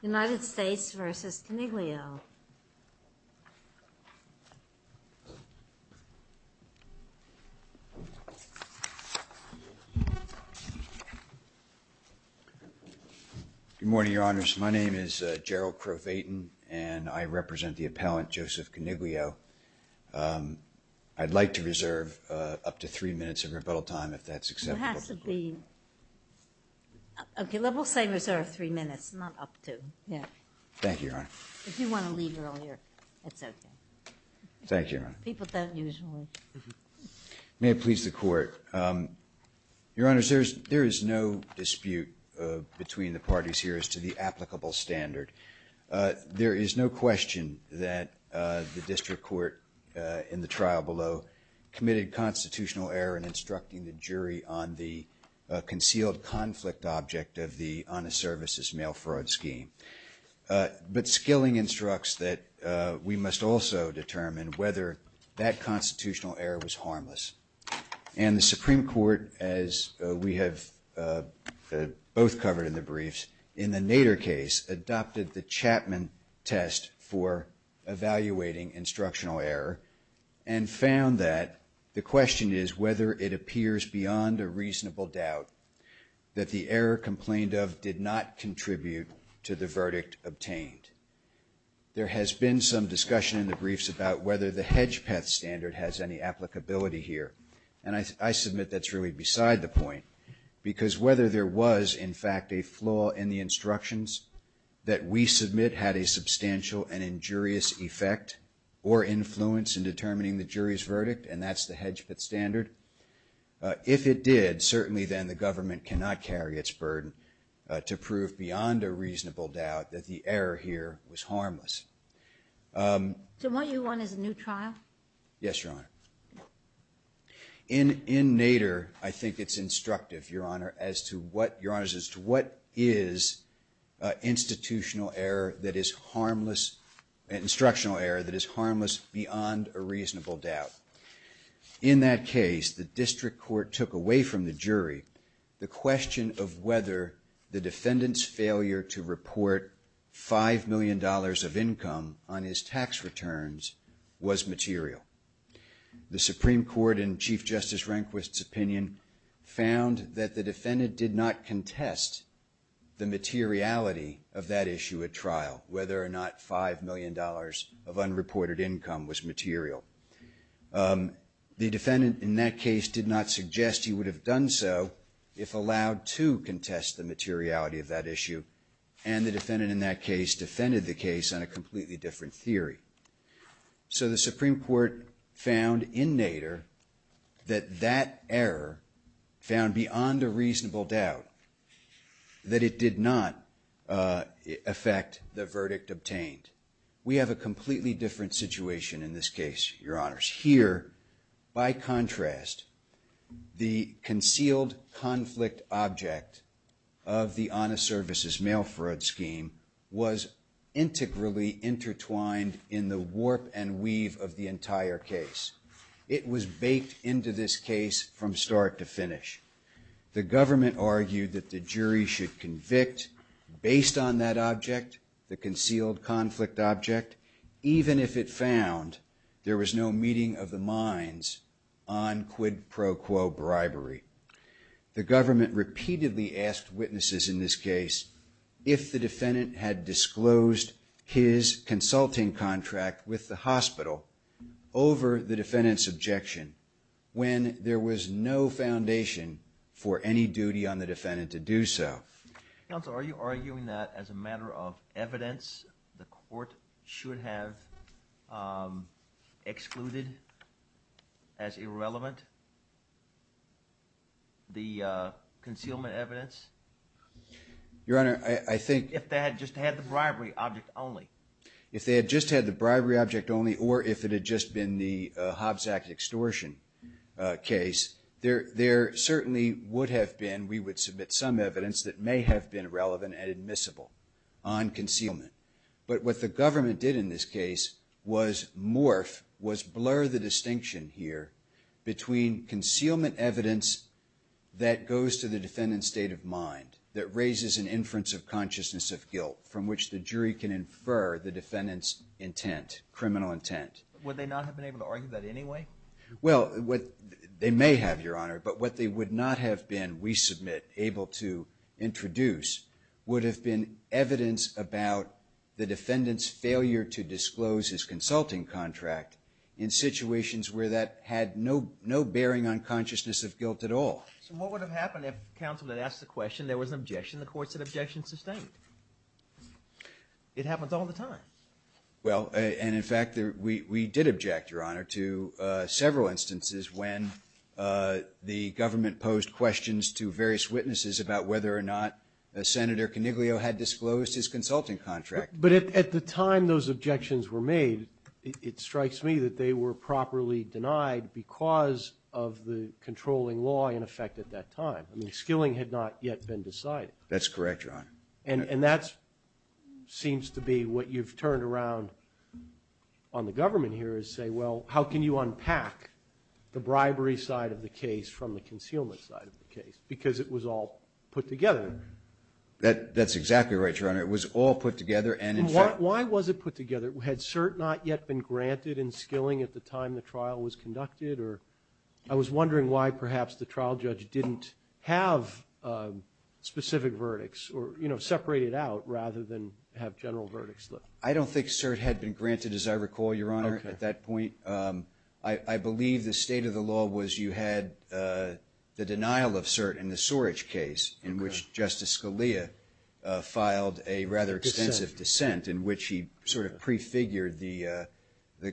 United States versus Coniglio. Good morning, Your Honors. My name is Gerald Crowe-Vayton, and I represent the appellant Joseph Coniglio. I'd like to reserve up to three minutes of time for questions. Your Honor, there is no dispute between the parties here as to the applicable standard. There is no question that the District Court in the trial below committed constitutional error in instructing the jury on the concealed conflict object of the honest services mail fraud scheme. But Skilling instructs that we must also determine whether that constitutional error was harmless. And the Supreme Court, as we have both covered in the briefs, in the Nader case, adopted the Chapman test for evaluating instructional error and found that the question is whether it appears beyond a reasonable doubt that the error complained of did not contribute to the verdict obtained. There has been some discussion in the briefs about whether the Hedgepeth standard has any applicability here, and I submit that's really beside the point, because whether there was, in fact, a flaw in the instructions that we submit had a substantial and injurious effect or influence in determining the jury's verdict, and that's the Hedgepeth standard. If it did, certainly then the government cannot carry its burden to prove beyond a reasonable doubt that the error here was harmless. So what you want is a new trial? Yes, Your Honor. In Nader, I think it's instructive, Your Honor, as to what is institutional error that is harmless beyond a reasonable doubt. In that case, the district court took away from the jury the question of whether the defendant's failure to report $5 million of income on his tax returns was material. The Supreme Court, in Chief Justice Rehnquist's opinion, found that the defendant did not contest the materiality of that issue at trial, whether or not $5 million of unreported income was material. The defendant in that case did not suggest he would have done so if allowed to contest the materiality of that issue, and the defendant in that case defended the case on a completely different theory. So the Supreme Court found in Nader that that error found beyond a reasonable doubt that it did not affect the verdict obtained. We have a completely different situation in this case, Your Honors. Here, by contrast, the concealed conflict object of the honest services mail fraud scheme was integrally intertwined in the warp and weave of the entire case. It was baked into this case from start to finish. The government argued that the jury should convict based on that object, the concealed conflict object, even if it found there was no meeting of the minds on quid pro quo bribery. The government repeatedly asked witnesses in this case if the defendant had disclosed his consulting contract with the hospital over the defendant's objection when there was no foundation for any duty on the defendant to do so. Counsel, are you arguing that as a matter of evidence the court should have excluded as irrelevant the concealment evidence? Your Honor, I think... If they had just had the bribery object only. If they had just had the bribery object only or if it had just been the Hobbs Act extortion case, there certainly would have been, we would submit some evidence that may have been relevant and admissible on concealment. But what the government did in this case was morph, was blur the distinction here between concealment evidence that goes to the defendant's state of mind, that raises an inference of consciousness of guilt from which the jury can infer the defendant's intent, criminal intent. Would they not have been able to argue that anyway? Well, they may have, Your Honor, but what they would not have been, we submit, able to introduce would have been evidence about the defendant's failure to disclose his consulting contract in situations where that had no bearing on consciousness of guilt at all. So what would have happened if counsel had asked the question, there was an objection, the court said objection sustained? It happens all the time. Well, and in fact we did object, Your Honor, to several instances when the government posed questions to various witnesses about whether or not Senator Coniglio had disclosed his consulting contract. But at the time those objections were made, it strikes me that they were properly denied because of the controlling law in effect at that time. I mean, the skilling had not yet been decided. That's correct, Your Honor. And that seems to be what you've turned around on the government here is say, well, how can you unpack the bribery side of the case from the concealment side of the case? Because it was all put together. That's exactly right, Your Honor. It was all put together and in fact... Why was it put together? Had cert not yet been granted in skilling at the time the trial was conducted? Or I was wondering why perhaps the trial judge didn't have specific verdicts or, you know, separate it out rather than have general verdicts. I don't think cert had been granted, as I recall, Your Honor, at that point. I believe the state of the law was you had the denial of cert in the filed a rather extensive dissent in which he sort of prefigured the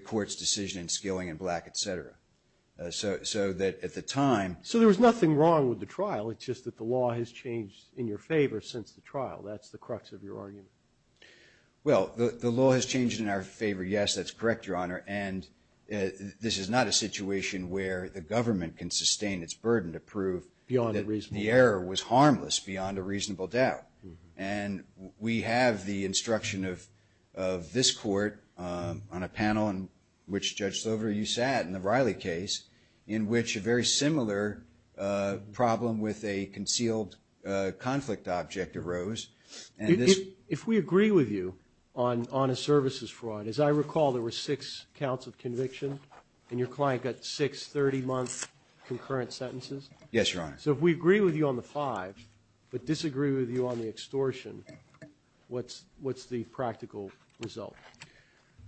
court's decision in skilling and black, et cetera. So that at the time... So there was nothing wrong with the trial. It's just that the law has changed in your favor since the trial. That's the crux of your argument. Well, the law has changed in our favor. Yes, that's correct, Your Honor. And this is not a situation where the government can sustain its burden to prove beyond a reasonable doubt. The error was harmless beyond a reasonable doubt. And we have the instruction of this court on a panel in which, Judge Slover, you sat in the Riley case in which a very similar problem with a concealed conflict object arose and this... If we agree with you on a services fraud, as I recall, there were six counts of conviction and your Honor... So if we agree with you on the five but disagree with you on the extortion, what's the practical result?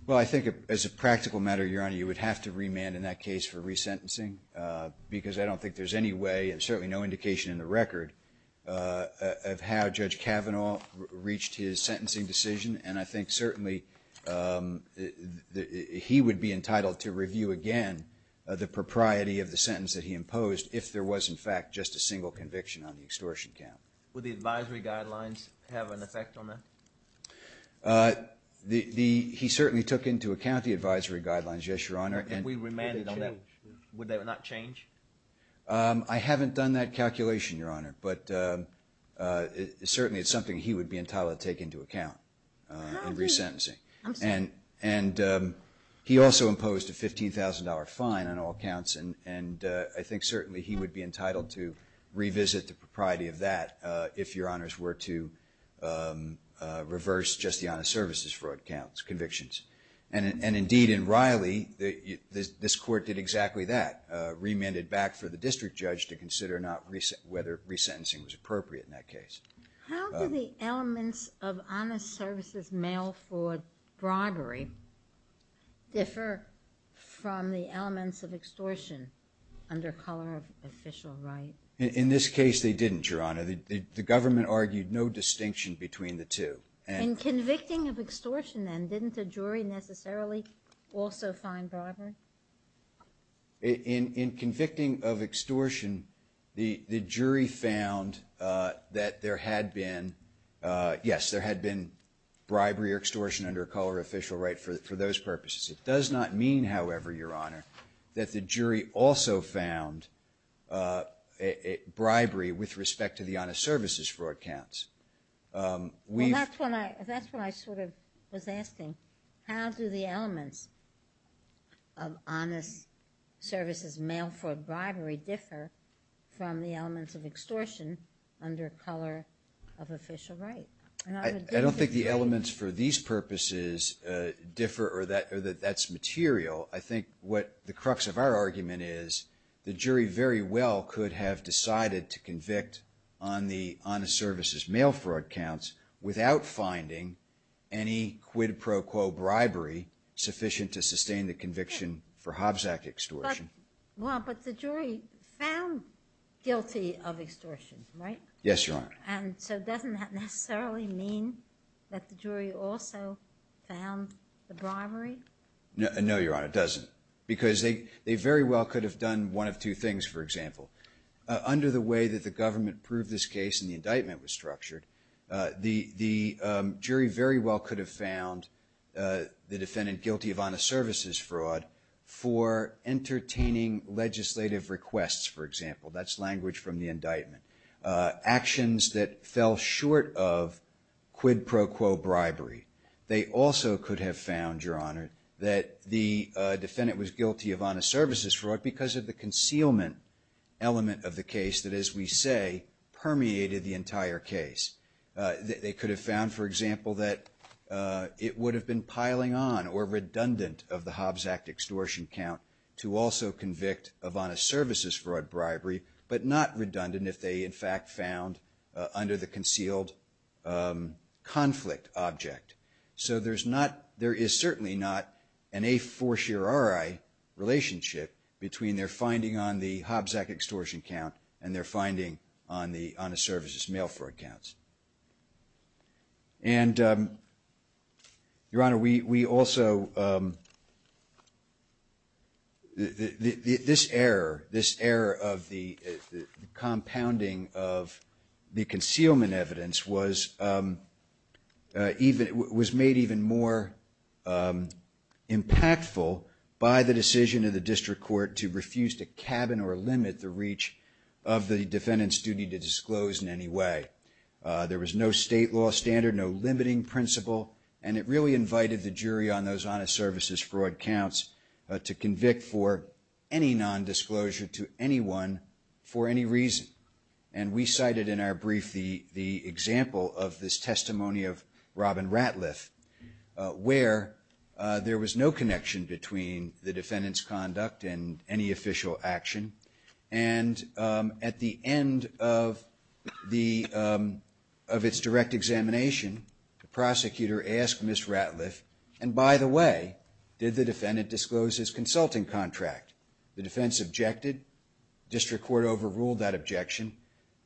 Well, I think as a practical matter, Your Honor, you would have to remand in that case for resentencing because I don't think there's any way and certainly no indication in the record of how Judge Kavanaugh reached his sentencing decision. And I think certainly he would be entitled to review again the propriety of the sentence that he imposed if there was in fact just a single conviction on the extortion count. Would the advisory guidelines have an effect on that? He certainly took into account the advisory guidelines, yes, Your Honor. Would they not change? I haven't done that calculation, Your Honor, but certainly it's something he would be entitled to take into account in resentencing. And he also imposed a $15,000 fine on all counts and I think certainly he would be entitled to revisit the propriety of that if Your Honors were to reverse just the honest services fraud counts, convictions. And indeed in Riley, this Court did exactly that, remanded back for the district judge to consider whether resentencing was appropriate in that case. How do the elements of honest services mail fraud bribery differ from the elements of extortion under color of official right? In this case they didn't, Your Honor. The government argued no distinction between the two. In convicting of extortion then, didn't the jury necessarily also find bribery? In convicting of extortion, the jury found that there had been, yes, there had been bribery or extortion under color of official right for those purposes. It does not mean, however, Your Honor, that the jury also found bribery with respect to the honest services fraud counts. Well, that's what I sort of was asking. How do the elements of honest services mail fraud bribery differ from the elements of extortion under color of official right? I don't think the elements for these purposes differ or that that's material. I think what the crux of our argument is the jury very well could have decided to convict on the honest services mail fraud counts without finding any quid pro quo bribery sufficient to sustain the conviction for Hobbs Act extortion. But the jury found guilty of extortion, right? Yes, Your Honor. And so doesn't that necessarily mean that the jury also found the bribery? No, Your Honor, it doesn't. Because they very well could have done one of two things, for example. Under the way that the government proved this case and the indictment was structured, the jury very well could have found the defendant guilty of honest services fraud for entertaining legislative requests, for example. That's language from the indictment. Actions that fell short of quid pro quo bribery. They also could have found, Your Honor, that the defendant was guilty of honest services fraud because of the concealment element of the case that, as we say, permeated the entire case. They could have found, for example, that it would have been piling on or redundant of the Hobbs Act extortion count to also convict of honest services fraud bribery but not redundant if they, in fact, found under the concealed conflict object. So there's not, there is certainly not an a fortiori relationship between their finding on the Hobbs Act extortion count and their finding on the honest services mail fraud counts. And, Your Honor, we also, this error, this error of the compounding of the concealment evidence was made even more impactful by the decision of the District Court to refuse to cabin or limit the reach of the defendant's duty to disclose in any way. There was no state law standard, no limiting principle, and it really invited the jury on those honest services fraud counts to convict for any nondisclosure to anyone for any reason. And we cited in our brief the example of this testimony of Robin Ratliff where there was no connection between the defendant's conduct and any official action. And at the end of the, of its direct examination, the prosecutor asked Ms. Ratliff, and by the way, did the defendant disclose his consulting contract? The defense objected. District Court overruled that objection.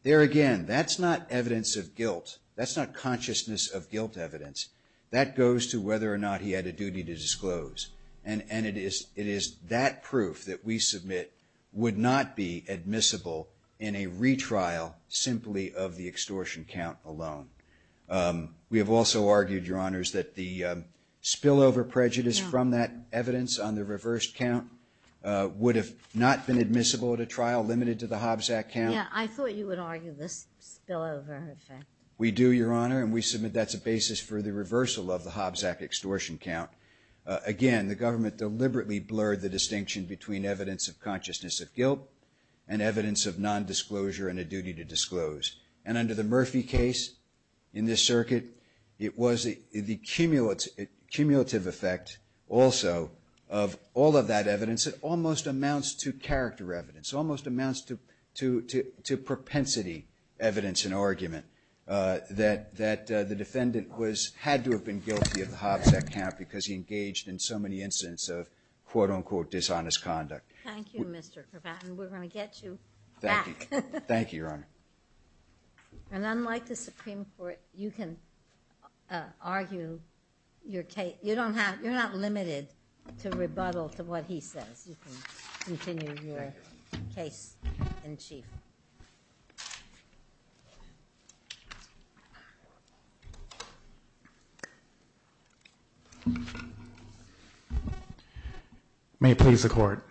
There again, that's not evidence of guilt. That's not consciousness of guilt evidence. That goes to whether or not he had a duty to disclose. And it is, it is that proof that we submit would not be admissible in a retrial simply of the extortion count alone. We have also argued, Your Honors, that the spillover prejudice from that evidence on the reversed count would have not been admissible at a trial limited to the Hobbs Act count. Yeah, I thought you would argue this spillover effect. We do, Your Honor, and we submit that's a basis for the reversal of the Hobbs Act extortion count. Again, the government deliberately blurred the distinction between evidence of consciousness of guilt and evidence of nondisclosure and a duty to disclose. And under the Murphy case in this circuit, it was the cumulative effect also of all of that evidence that almost amounts to character evidence, almost amounts to propensity evidence and argument that the defendant was, had to have been guilty of the Hobbs Act count because he engaged in so many incidents of quote unquote dishonest conduct. Thank you, Mr. Kropotkin. We're going to get you back. Thank you, Your Honor. And unlike the Supreme Court, you can argue your case, you don't have, you're not limited to rebuttal to what he says. You can continue your case in chief. May it please the Court.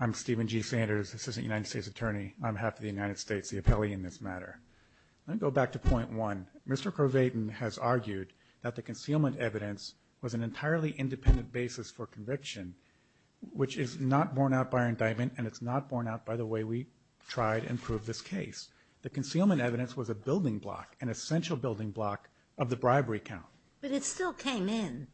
I'm Stephen G. Sanders, Assistant United States Attorney. I'm half of the United States, the appellee in this matter. Let me go back to point one. Mr. Kropotkin has argued that the concealment evidence was an entirely independent basis for conviction, which is not borne out by indictment and it's not borne out by the way we tried and proved this case. The concealment evidence was a building block, an essential building block of the bribery count. But it still came in.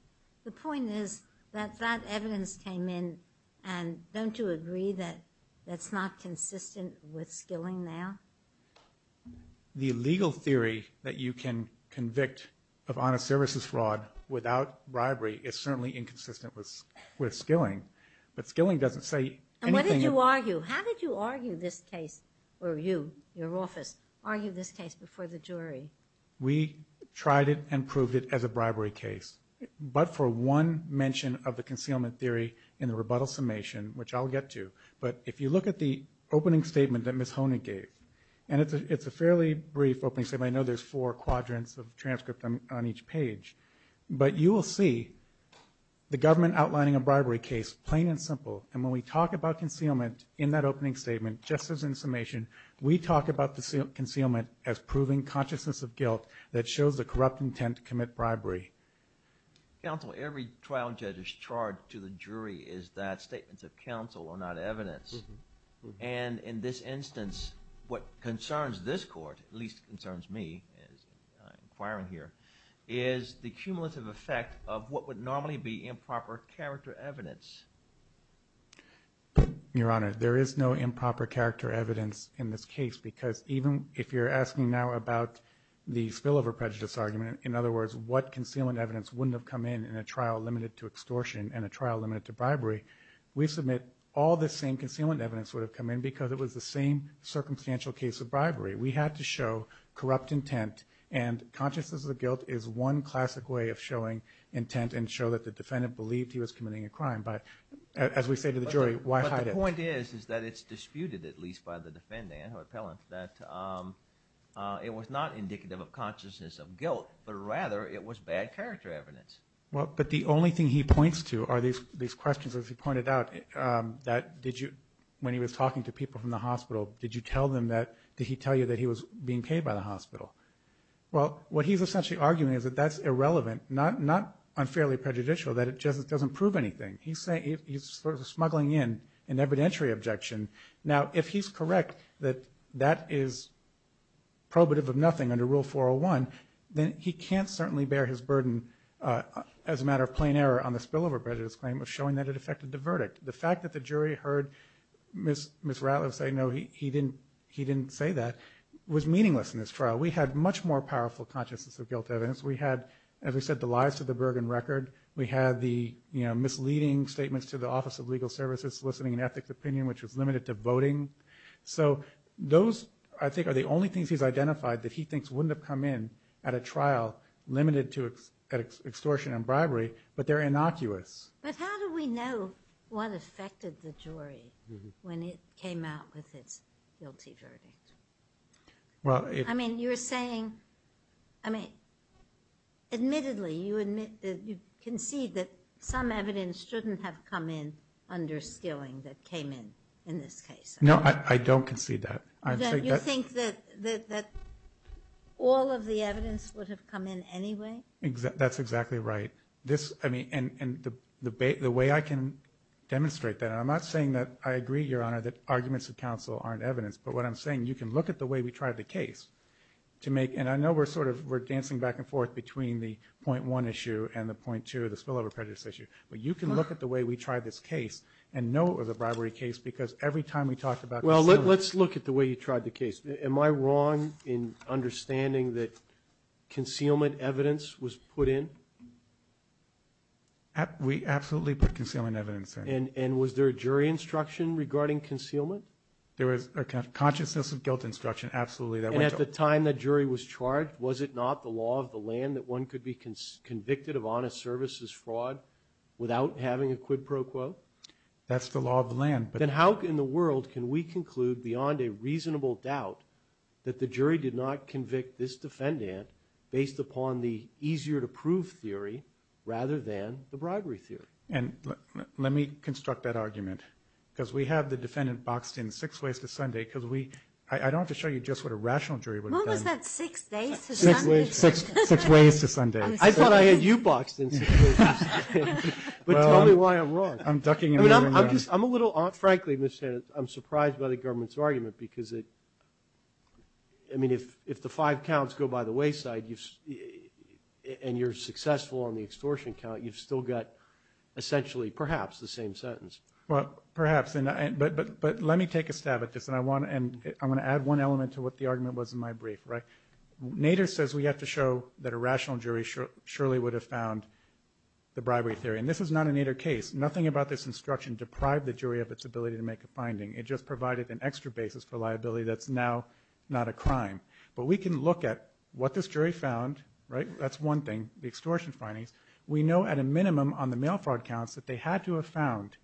The point is that that evidence came in and don't you agree that that's not consistent with skilling now? The legal theory that you can convict of honest services fraud without bribery is certainly inconsistent with skilling. But skilling doesn't say anything. And what did you argue? How did you argue this case, or you, your office, argue this case before the jury? We tried it and proved it as a bribery case. But for one mention of the concealment theory in the rebuttal summation, which I'll get to, but if you look at the opening statement that Ms. Honig gave, and it's a fairly brief opening statement, I know there's four quadrants of transcript on each page, but you will see the government outlining a bribery case, plain and simple, and when we talk about concealment in that opening statement, just as in summation, we talk about the concealment as proving consciousness of guilt that shows the corrupt intent to commit bribery. Counsel, every trial judge's charge to the jury is that statements of counsel are not evidence. And in this instance, what concerns this court, at least concerns me as I'm inquiring here, is the cumulative effect of what would normally be improper character evidence. Your Honor, there is no improper character evidence in this case, because even if you're asking now about the spillover prejudice argument, in other words, what concealment evidence wouldn't have come in in a trial limited to extortion and a trial limited to bribery, we submit all the same concealment evidence would have come in because it was the same circumstantial case of bribery. We had to show corrupt intent, and consciousness of guilt is one classic way of showing intent and show that the defendant believed he was committing a crime. But as we say to the jury, why hide it? But the point is, is that it's disputed, at least by the defendant or appellant, that it was not indicative of consciousness of guilt, but rather it was bad character evidence. Well, but the only thing he points to are these questions, as he pointed out, that did you, when he was talking to people from the hospital, did you tell them that, did he tell you that he was being paid by the hospital? Well, what he's essentially arguing is that that's irrelevant, not unfairly prejudicial, that it doesn't prove anything. He's smuggling in an evidentiary objection. Now, if he's correct that that is probative of nothing under Rule 401, then he can't certainly bear his burden as a matter of plain error on the spillover prejudice claim of showing that it affected the verdict. The fact that the jury heard Ms. Ratliff say, no, he didn't say that, was meaningless in this trial. We had much more powerful consciousness of guilt evidence. We had, as we said, the lies to the Bergen record. We had the misleading statements to the Office of Legal Services soliciting an ethics opinion, which was limited to voting. So those, I think, are the only things he's said that just wouldn't have come in at a trial limited to extortion and bribery, but they're innocuous. But how do we know what affected the jury when it came out with its guilty verdict? I mean, you're saying, I mean, admittedly, you admit, you concede that some evidence shouldn't have come in under Skilling that came in, in this case. No, I don't concede that. You think that all of the evidence would have come in anyway? That's exactly right. This, I mean, and the way I can demonstrate that, and I'm not saying that I agree, Your Honor, that arguments of counsel aren't evidence, but what I'm saying, you can look at the way we tried the case to make, and I know we're sort of, we're dancing back and forth between the point one issue and the point two, the spillover prejudice issue, but you can look at the way we tried this case and know it was a bribery case because every time we talked about concealment. Well, let's look at the way you tried the case. Am I wrong in understanding that concealment evidence was put in? We absolutely put concealment evidence in. And was there a jury instruction regarding concealment? There was a consciousness of guilt instruction, absolutely. And at the time that jury was charged, was it not the law of the land that one could be convicted of honest services fraud without having a quid pro quo? That's the law of the land. Then how in the world can we conclude beyond a reasonable doubt that the jury did not convict this defendant based upon the easier to prove theory rather than the bribery theory? And let me construct that argument because we have the defendant boxed in six ways to Sunday because we, I don't have to show you just what a rational jury would have done. When was that, six days to Sunday? Six ways to Sunday. I thought I knew you boxed in six ways to Sunday. But tell me why I'm wrong. I'm ducking in here. I'm a little, frankly, Mr. Hannon, I'm surprised by the government's argument because it, I mean if the five counts go by the wayside and you're successful on the extortion count, you've still got essentially perhaps the same sentence. Well, perhaps. But let me take a stab at this and I want to add one element to what the argument was in my brief. Nader says we have to show that a rational jury surely would have found the bribery theory. And this is not a Nader case. Nothing about this instruction deprived the jury of its ability to make a finding. It just provided an extra basis for liability that's now not a crime. But we can look at what this jury found, right, that's one thing, the extortion findings. We know at a minimum on the mail fraud counts that they had to have found,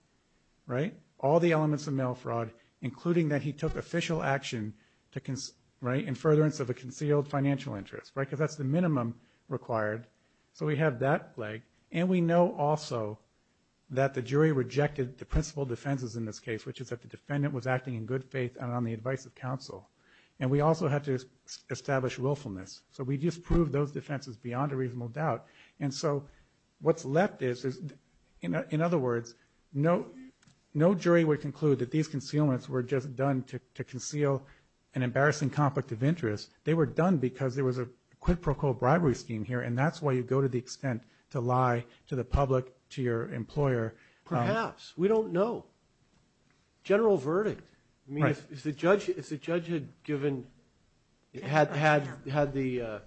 right, all the elements of mail fraud including that he took official action to, right, in furtherance of a concealed financial interest, right, because that's the minimum required. So we have that leg. And we know also that the jury rejected the principal defenses in this case which is that the defendant was acting in good faith and on the advice of counsel. And we also had to establish willfulness. So we just proved those defenses beyond a reasonable doubt. And so what's left is, in other words, no jury would conclude that these were any conflict of interest. They were done because there was a quid pro quo bribery scheme here. And that's why you go to the extent to lie to the public, to your employer. Perhaps. We don't know. General verdict. I mean, if the judge had given, had the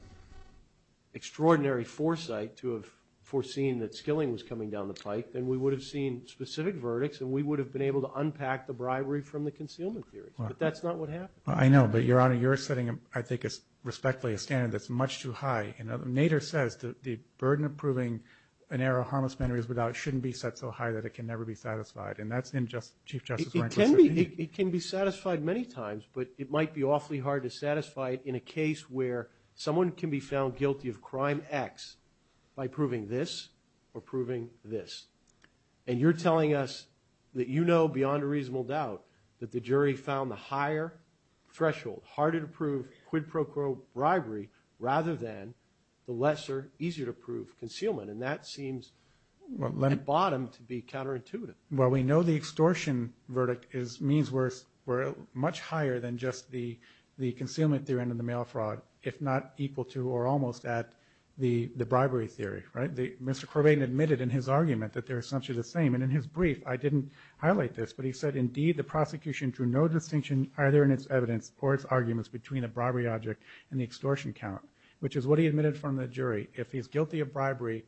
extraordinary foresight to have foreseen that Skilling was coming down the pike, then we would have seen specific verdicts and we would have been able to unpack the bribery from the concealment theory. But that's not what happened. I know. But, Your Honor, you're setting, I think, respectfully a standard that's much too high. Nader says the burden of proving an error of harmless mannerism of doubt shouldn't be set so high that it can never be satisfied. And that's in Chief Justice Rankin's opinion. It can be satisfied many times, but it might be awfully hard to satisfy it in a case where someone can be found guilty of crime X by proving this or proving this. And you're telling us that you know beyond a reasonable doubt that the jury found the higher threshold, harder to prove quid pro quo bribery, rather than the lesser, easier to prove concealment. And that seems, at bottom, to be counterintuitive. Well, we know the extortion verdict is, means worse, much higher than just the concealment theory under the mail fraud, if not equal to or almost at the bribery theory, right? Mr. Corbain admitted in his argument that they're essentially the same. And in his brief, I didn't highlight this, but he said, indeed, the prosecution drew no distinction either in its evidence or its arguments between the bribery object and the extortion count, which is what he admitted from the jury. If he's guilty of bribery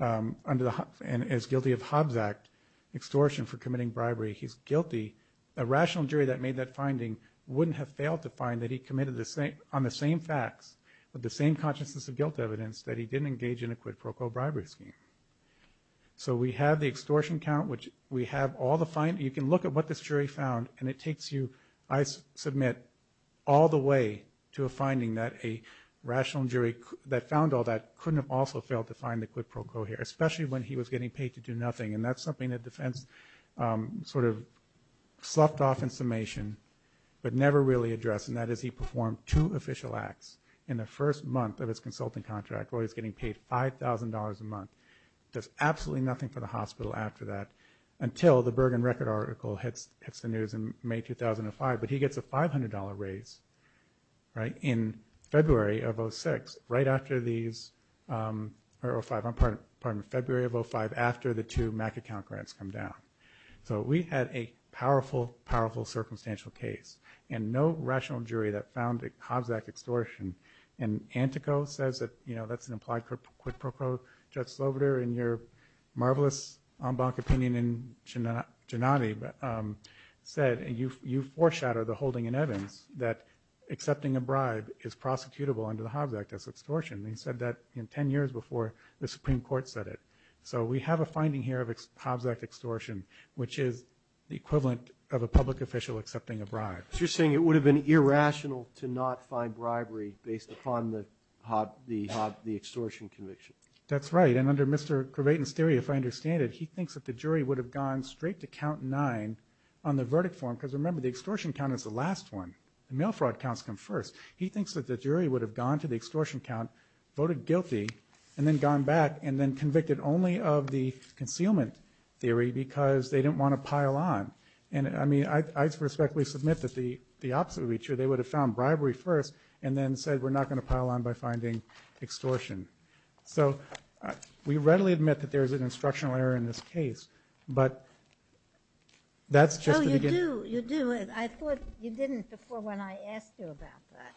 under the, and is guilty of Hobbs Act extortion for committing bribery, he's guilty. A rational jury that made that finding wouldn't have failed to find that he committed on the same facts, with the same consciousness of guilt evidence, that he didn't engage in a quid pro quo bribery scheme. So we have the extortion count, which we have all the, you can look at what this jury found, and it takes you, I submit, all the way to a finding that a rational jury that found all that couldn't have also failed to find the quid pro quo here, especially when he was getting paid to do nothing. And that's something that defense sort of sloughed off in summation, but never really addressed, and that is he performed two official acts in the first month of his consulting contract where he's getting paid $5,000 a month, does absolutely nothing for the hospital after that, until the Bergen Record article hits the news in May 2005, but he gets a $500 raise in February of 06, right after these, or 05, pardon me, February of 05, after the two MAC account grants come down. So we had a powerful, powerful circumstantial case, and no rational says that, you know, that's an implied quid pro quo. Judge Sloveder, in your marvelous en banc opinion in Gennady, said, and you foreshadowed the holding in Evans, that accepting a bribe is prosecutable under the Hobbs Act as extortion, and he said that 10 years before the Supreme Court said it. So we have a finding here of Hobbs Act extortion, which is the equivalent of a public official accepting a bribe. So you're saying it would have been irrational to not find bribery based upon the extortion conviction? That's right, and under Mr. Cravaton's theory, if I understand it, he thinks that the jury would have gone straight to count nine on the verdict form, because remember, the extortion count is the last one. The mail fraud counts come first. He thinks that the jury would have gone to the extortion count, voted guilty, and then gone back and then convicted only of the concealment theory because they didn't want to pile on. And I mean, I respectfully submit that the opposite would be true. They would have found bribery first and then said we're not going to pile on by finding extortion. So we readily admit that there's an instructional error in this case, but that's just the beginning. Oh, you do. You do. I thought you didn't before when I asked you about that.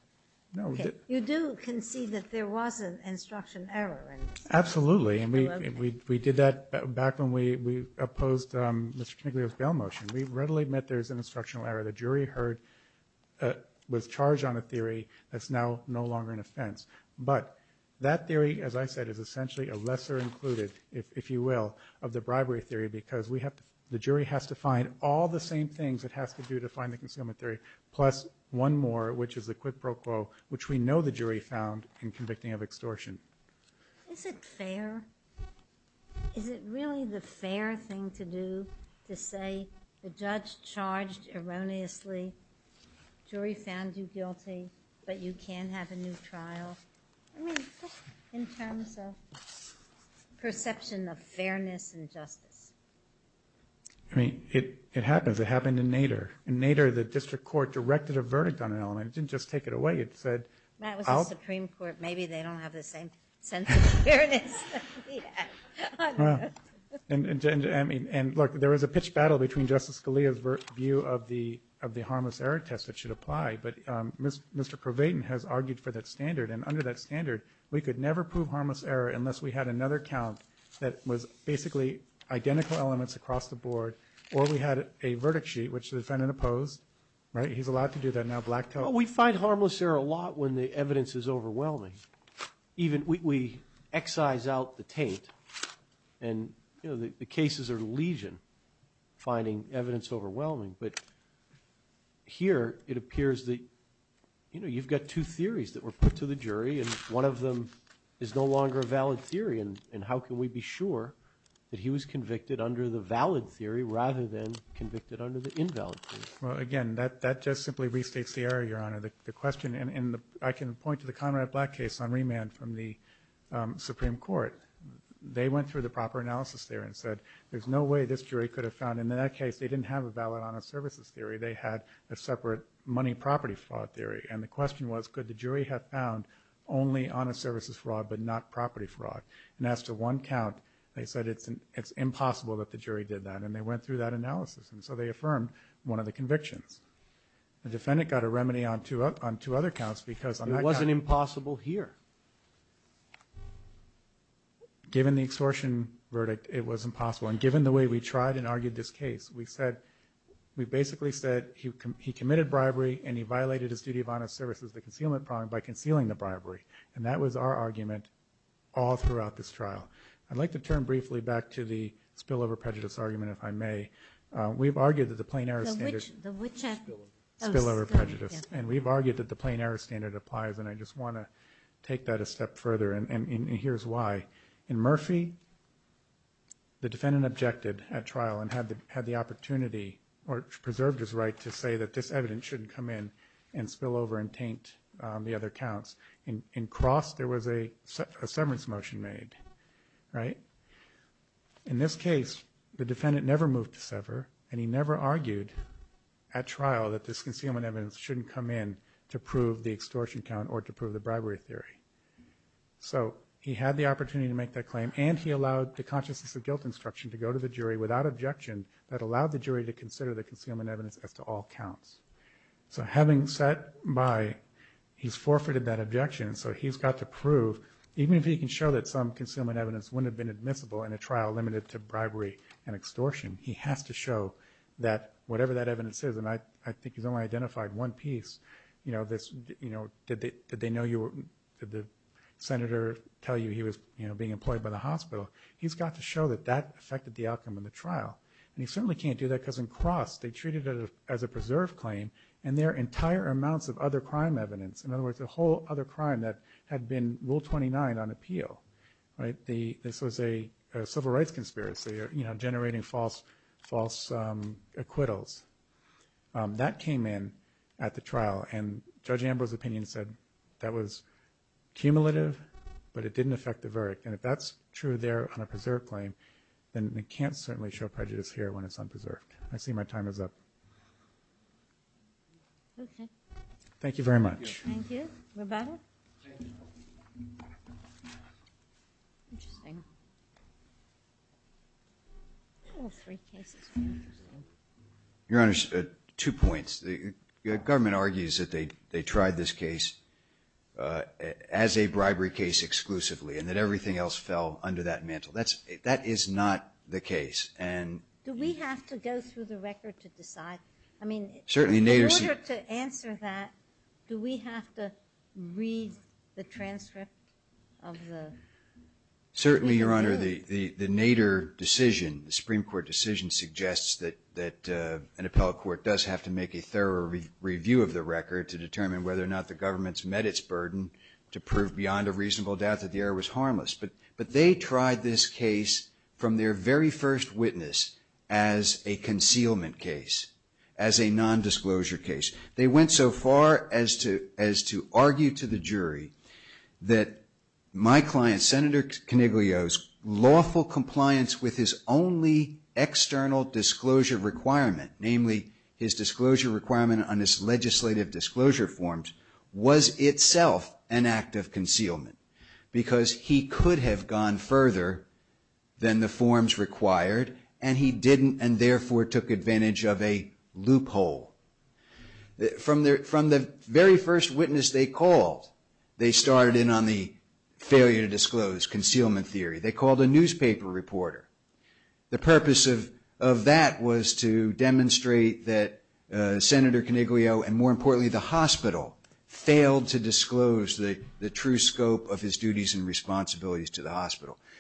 No, we didn't. Okay. You do concede that there was an instruction error in this? Absolutely, and we did that back when we opposed Mr. Tinkler's bail motion. We readily admit there's an instructional error. The jury heard, was charged on a theory that's now no longer an offense. But that theory, as I said, is essentially a lesser included, if you will, of the bribery theory because the jury has to find all the same things it has to do to find the concealment theory, plus one more, which is the quid pro quo, which we know the jury found in convicting of extortion. Is it fair? Is it really the fair thing to do to say the judge charged erroneously, jury found you guilty, but you can have a new trial? I mean, just in terms of perception of fairness and justice. I mean, it happens. It happened in Nader. In Nader, the district court directed a verdict on an element. It didn't just take it away. It said... That was the Supreme Court. Maybe they don't have the same sense of fairness. And look, there was a pitched battle between Justice Scalia's view of the harmless error test that should apply, but Mr. Corbatin has argued for that standard, and under that standard we could never prove harmless error unless we had another count that was basically identical elements across the board, or we had a verdict sheet, which the defendant opposed, right? He's allowed to do that now blacked out. Well, we find harmless error a lot when the evidence is overwhelming. We excise out the taint, and the cases are legion finding evidence overwhelming, but here it appears that you've got two theories that were put to the jury, and one of them is no longer a valid theory, and how can we be sure that he was convicted under the valid theory rather than convicted under the invalid theory? Well, again, that just simply restates the error, Your Honor. The question in the... I can point to the Conrad Black case on remand from the Supreme Court. They went through the proper analysis there and said, there's no way this jury could have found... In that case, they didn't have a valid honest services theory. They had a separate money property fraud theory, and the question was, could the jury have found only honest services fraud but not property fraud? And as to one count, they said it's impossible that the jury did that, and they went through that analysis, and so they affirmed one of the convictions. The defendant got a remedy on two other counts because on that count... It wasn't impossible here. Given the extortion verdict, it was impossible, and given the way we tried and argued this case, we basically said he committed bribery, and he violated his duty of honest services of the concealment problem by concealing the bribery, and that was our argument all throughout this trial. I'd like to turn briefly back to the spillover prejudice argument, if I may. We've argued that the plain error standard... The which... Spillover prejudice, and we've argued that the plain error standard applies, and I just want to take that a step further, and here's why. In Murphy, the defendant objected at trial and had the opportunity or preserved his right to say that this evidence shouldn't come in and spill over and taint the other counts. In Cross, there was a severance motion made, right? In this case, the defendant never moved to sever, and he never argued at trial that this concealment evidence shouldn't come in to prove the extortion count or to prove the bribery theory, so he had the opportunity to make that claim, and he allowed the consciousness of guilt instruction to go to the jury without objection that allowed the jury to consider the concealment evidence as to all counts. So having sat by... He's forfeited that objection, so he's got to prove... Even if he can show that some concealment evidence wouldn't have been admissible in a trial limited to bribery and extortion, he has to show that whatever that evidence is, and I think he's only identified one piece, you know, this, you know, did they know you were... Did the senator tell you he was, you know, being employed by the hospital? He's got to show that that affected the outcome of the trial, and he certainly can't do that because in Cross, they treated it as a preserved claim, and there are entire amounts of other crime evidence. In other words, a whole other crime that had been Rule 29 on appeal, right? This was a civil rights conspiracy, you know, generating false acquittals. That came in at the trial, and Judge Ambrose's opinion said that was cumulative, but it didn't affect the verdict, and if that's true there on a preserved claim, then we can't certainly show prejudice here when it's unpreserved. I see my time is up. Okay. Thank you very much. Thank you. Roberta? Interesting. All three cases were interesting. Your Honor, two points. The government argues that they tried this case as a bribery case exclusively and that everything else fell under that mantle. That is not the case. Do we have to go through the record to decide? I mean, in order to answer that, do we have to read the transcript of the review? Certainly, Your Honor. The Nader decision, the Supreme Court decision, suggests that an appellate court does have to make a thorough review of the record to determine whether or not the government's met its burden to prove beyond a reasonable doubt that the error was harmless. But they tried this case from their very first witness as a concealment case, as a nondisclosure case. They went so far as to argue to the jury that my client, Senator Coniglio's lawful compliance with his only external disclosure requirement, namely his disclosure requirement on his could have gone further than the forms required, and he didn't and therefore took advantage of a loophole. From the very first witness they called, they started in on the failure to disclose, concealment theory. They called a newspaper reporter. The purpose of that was to demonstrate that Senator Coniglio and, more importantly, the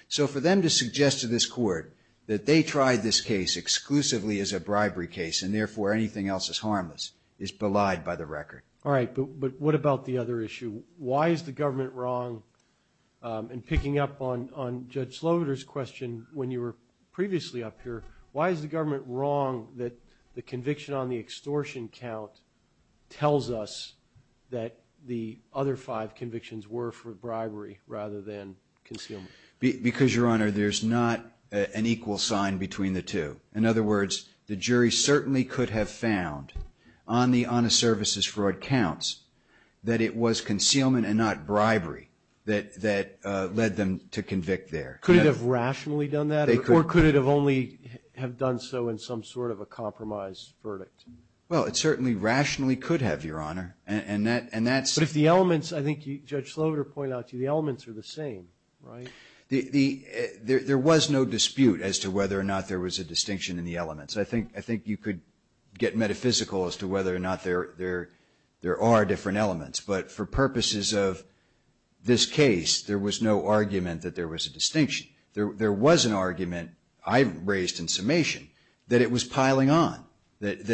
So for them to suggest to this court that they tried this case exclusively as a bribery case and therefore anything else is harmless is belied by the record. All right. But what about the other issue? Why is the government wrong in picking up on Judge Slaughter's question when you were previously up here? Why is the government wrong that the conviction on the extortion count tells us that the other five convictions were for bribery rather than concealment? Because, Your Honor, there's not an equal sign between the two. In other words, the jury certainly could have found on the honest services fraud counts that it was concealment and not bribery that led them to convict there. Could it have rationally done that or could it have only have done so in some sort of a compromise verdict? Well, it certainly rationally could have, Your Honor, and that's But if the elements, I think Judge Slaughter pointed out to you, the elements are the same, right? There was no dispute as to whether or not there was a distinction in the elements. I think you could get metaphysical as to whether or not there are different elements. But for purposes of this case, there was no argument that there was a distinction. There was an argument I raised in summation that it was piling on, that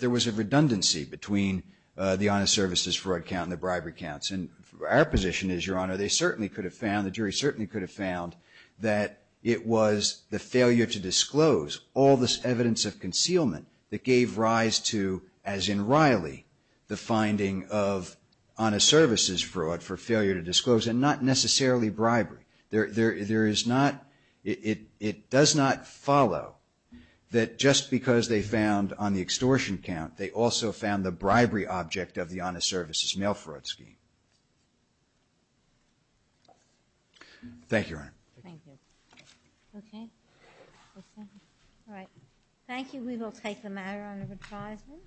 there was a redundancy between the honest services fraud count and the bribery counts. And our position is, Your Honor, they certainly could have found, the jury certainly could have found that it was the failure to disclose all this evidence of concealment that gave rise to, as in Riley, the finding of honest services fraud for failure to disclose and not necessarily bribery. There is not, it does not follow that just because they found on the extortion count they also found the bribery object of the honest services mail fraud scheme. Thank you, Your Honor. Thank you. Okay. All right. Thank you. We will take the matter under advisement.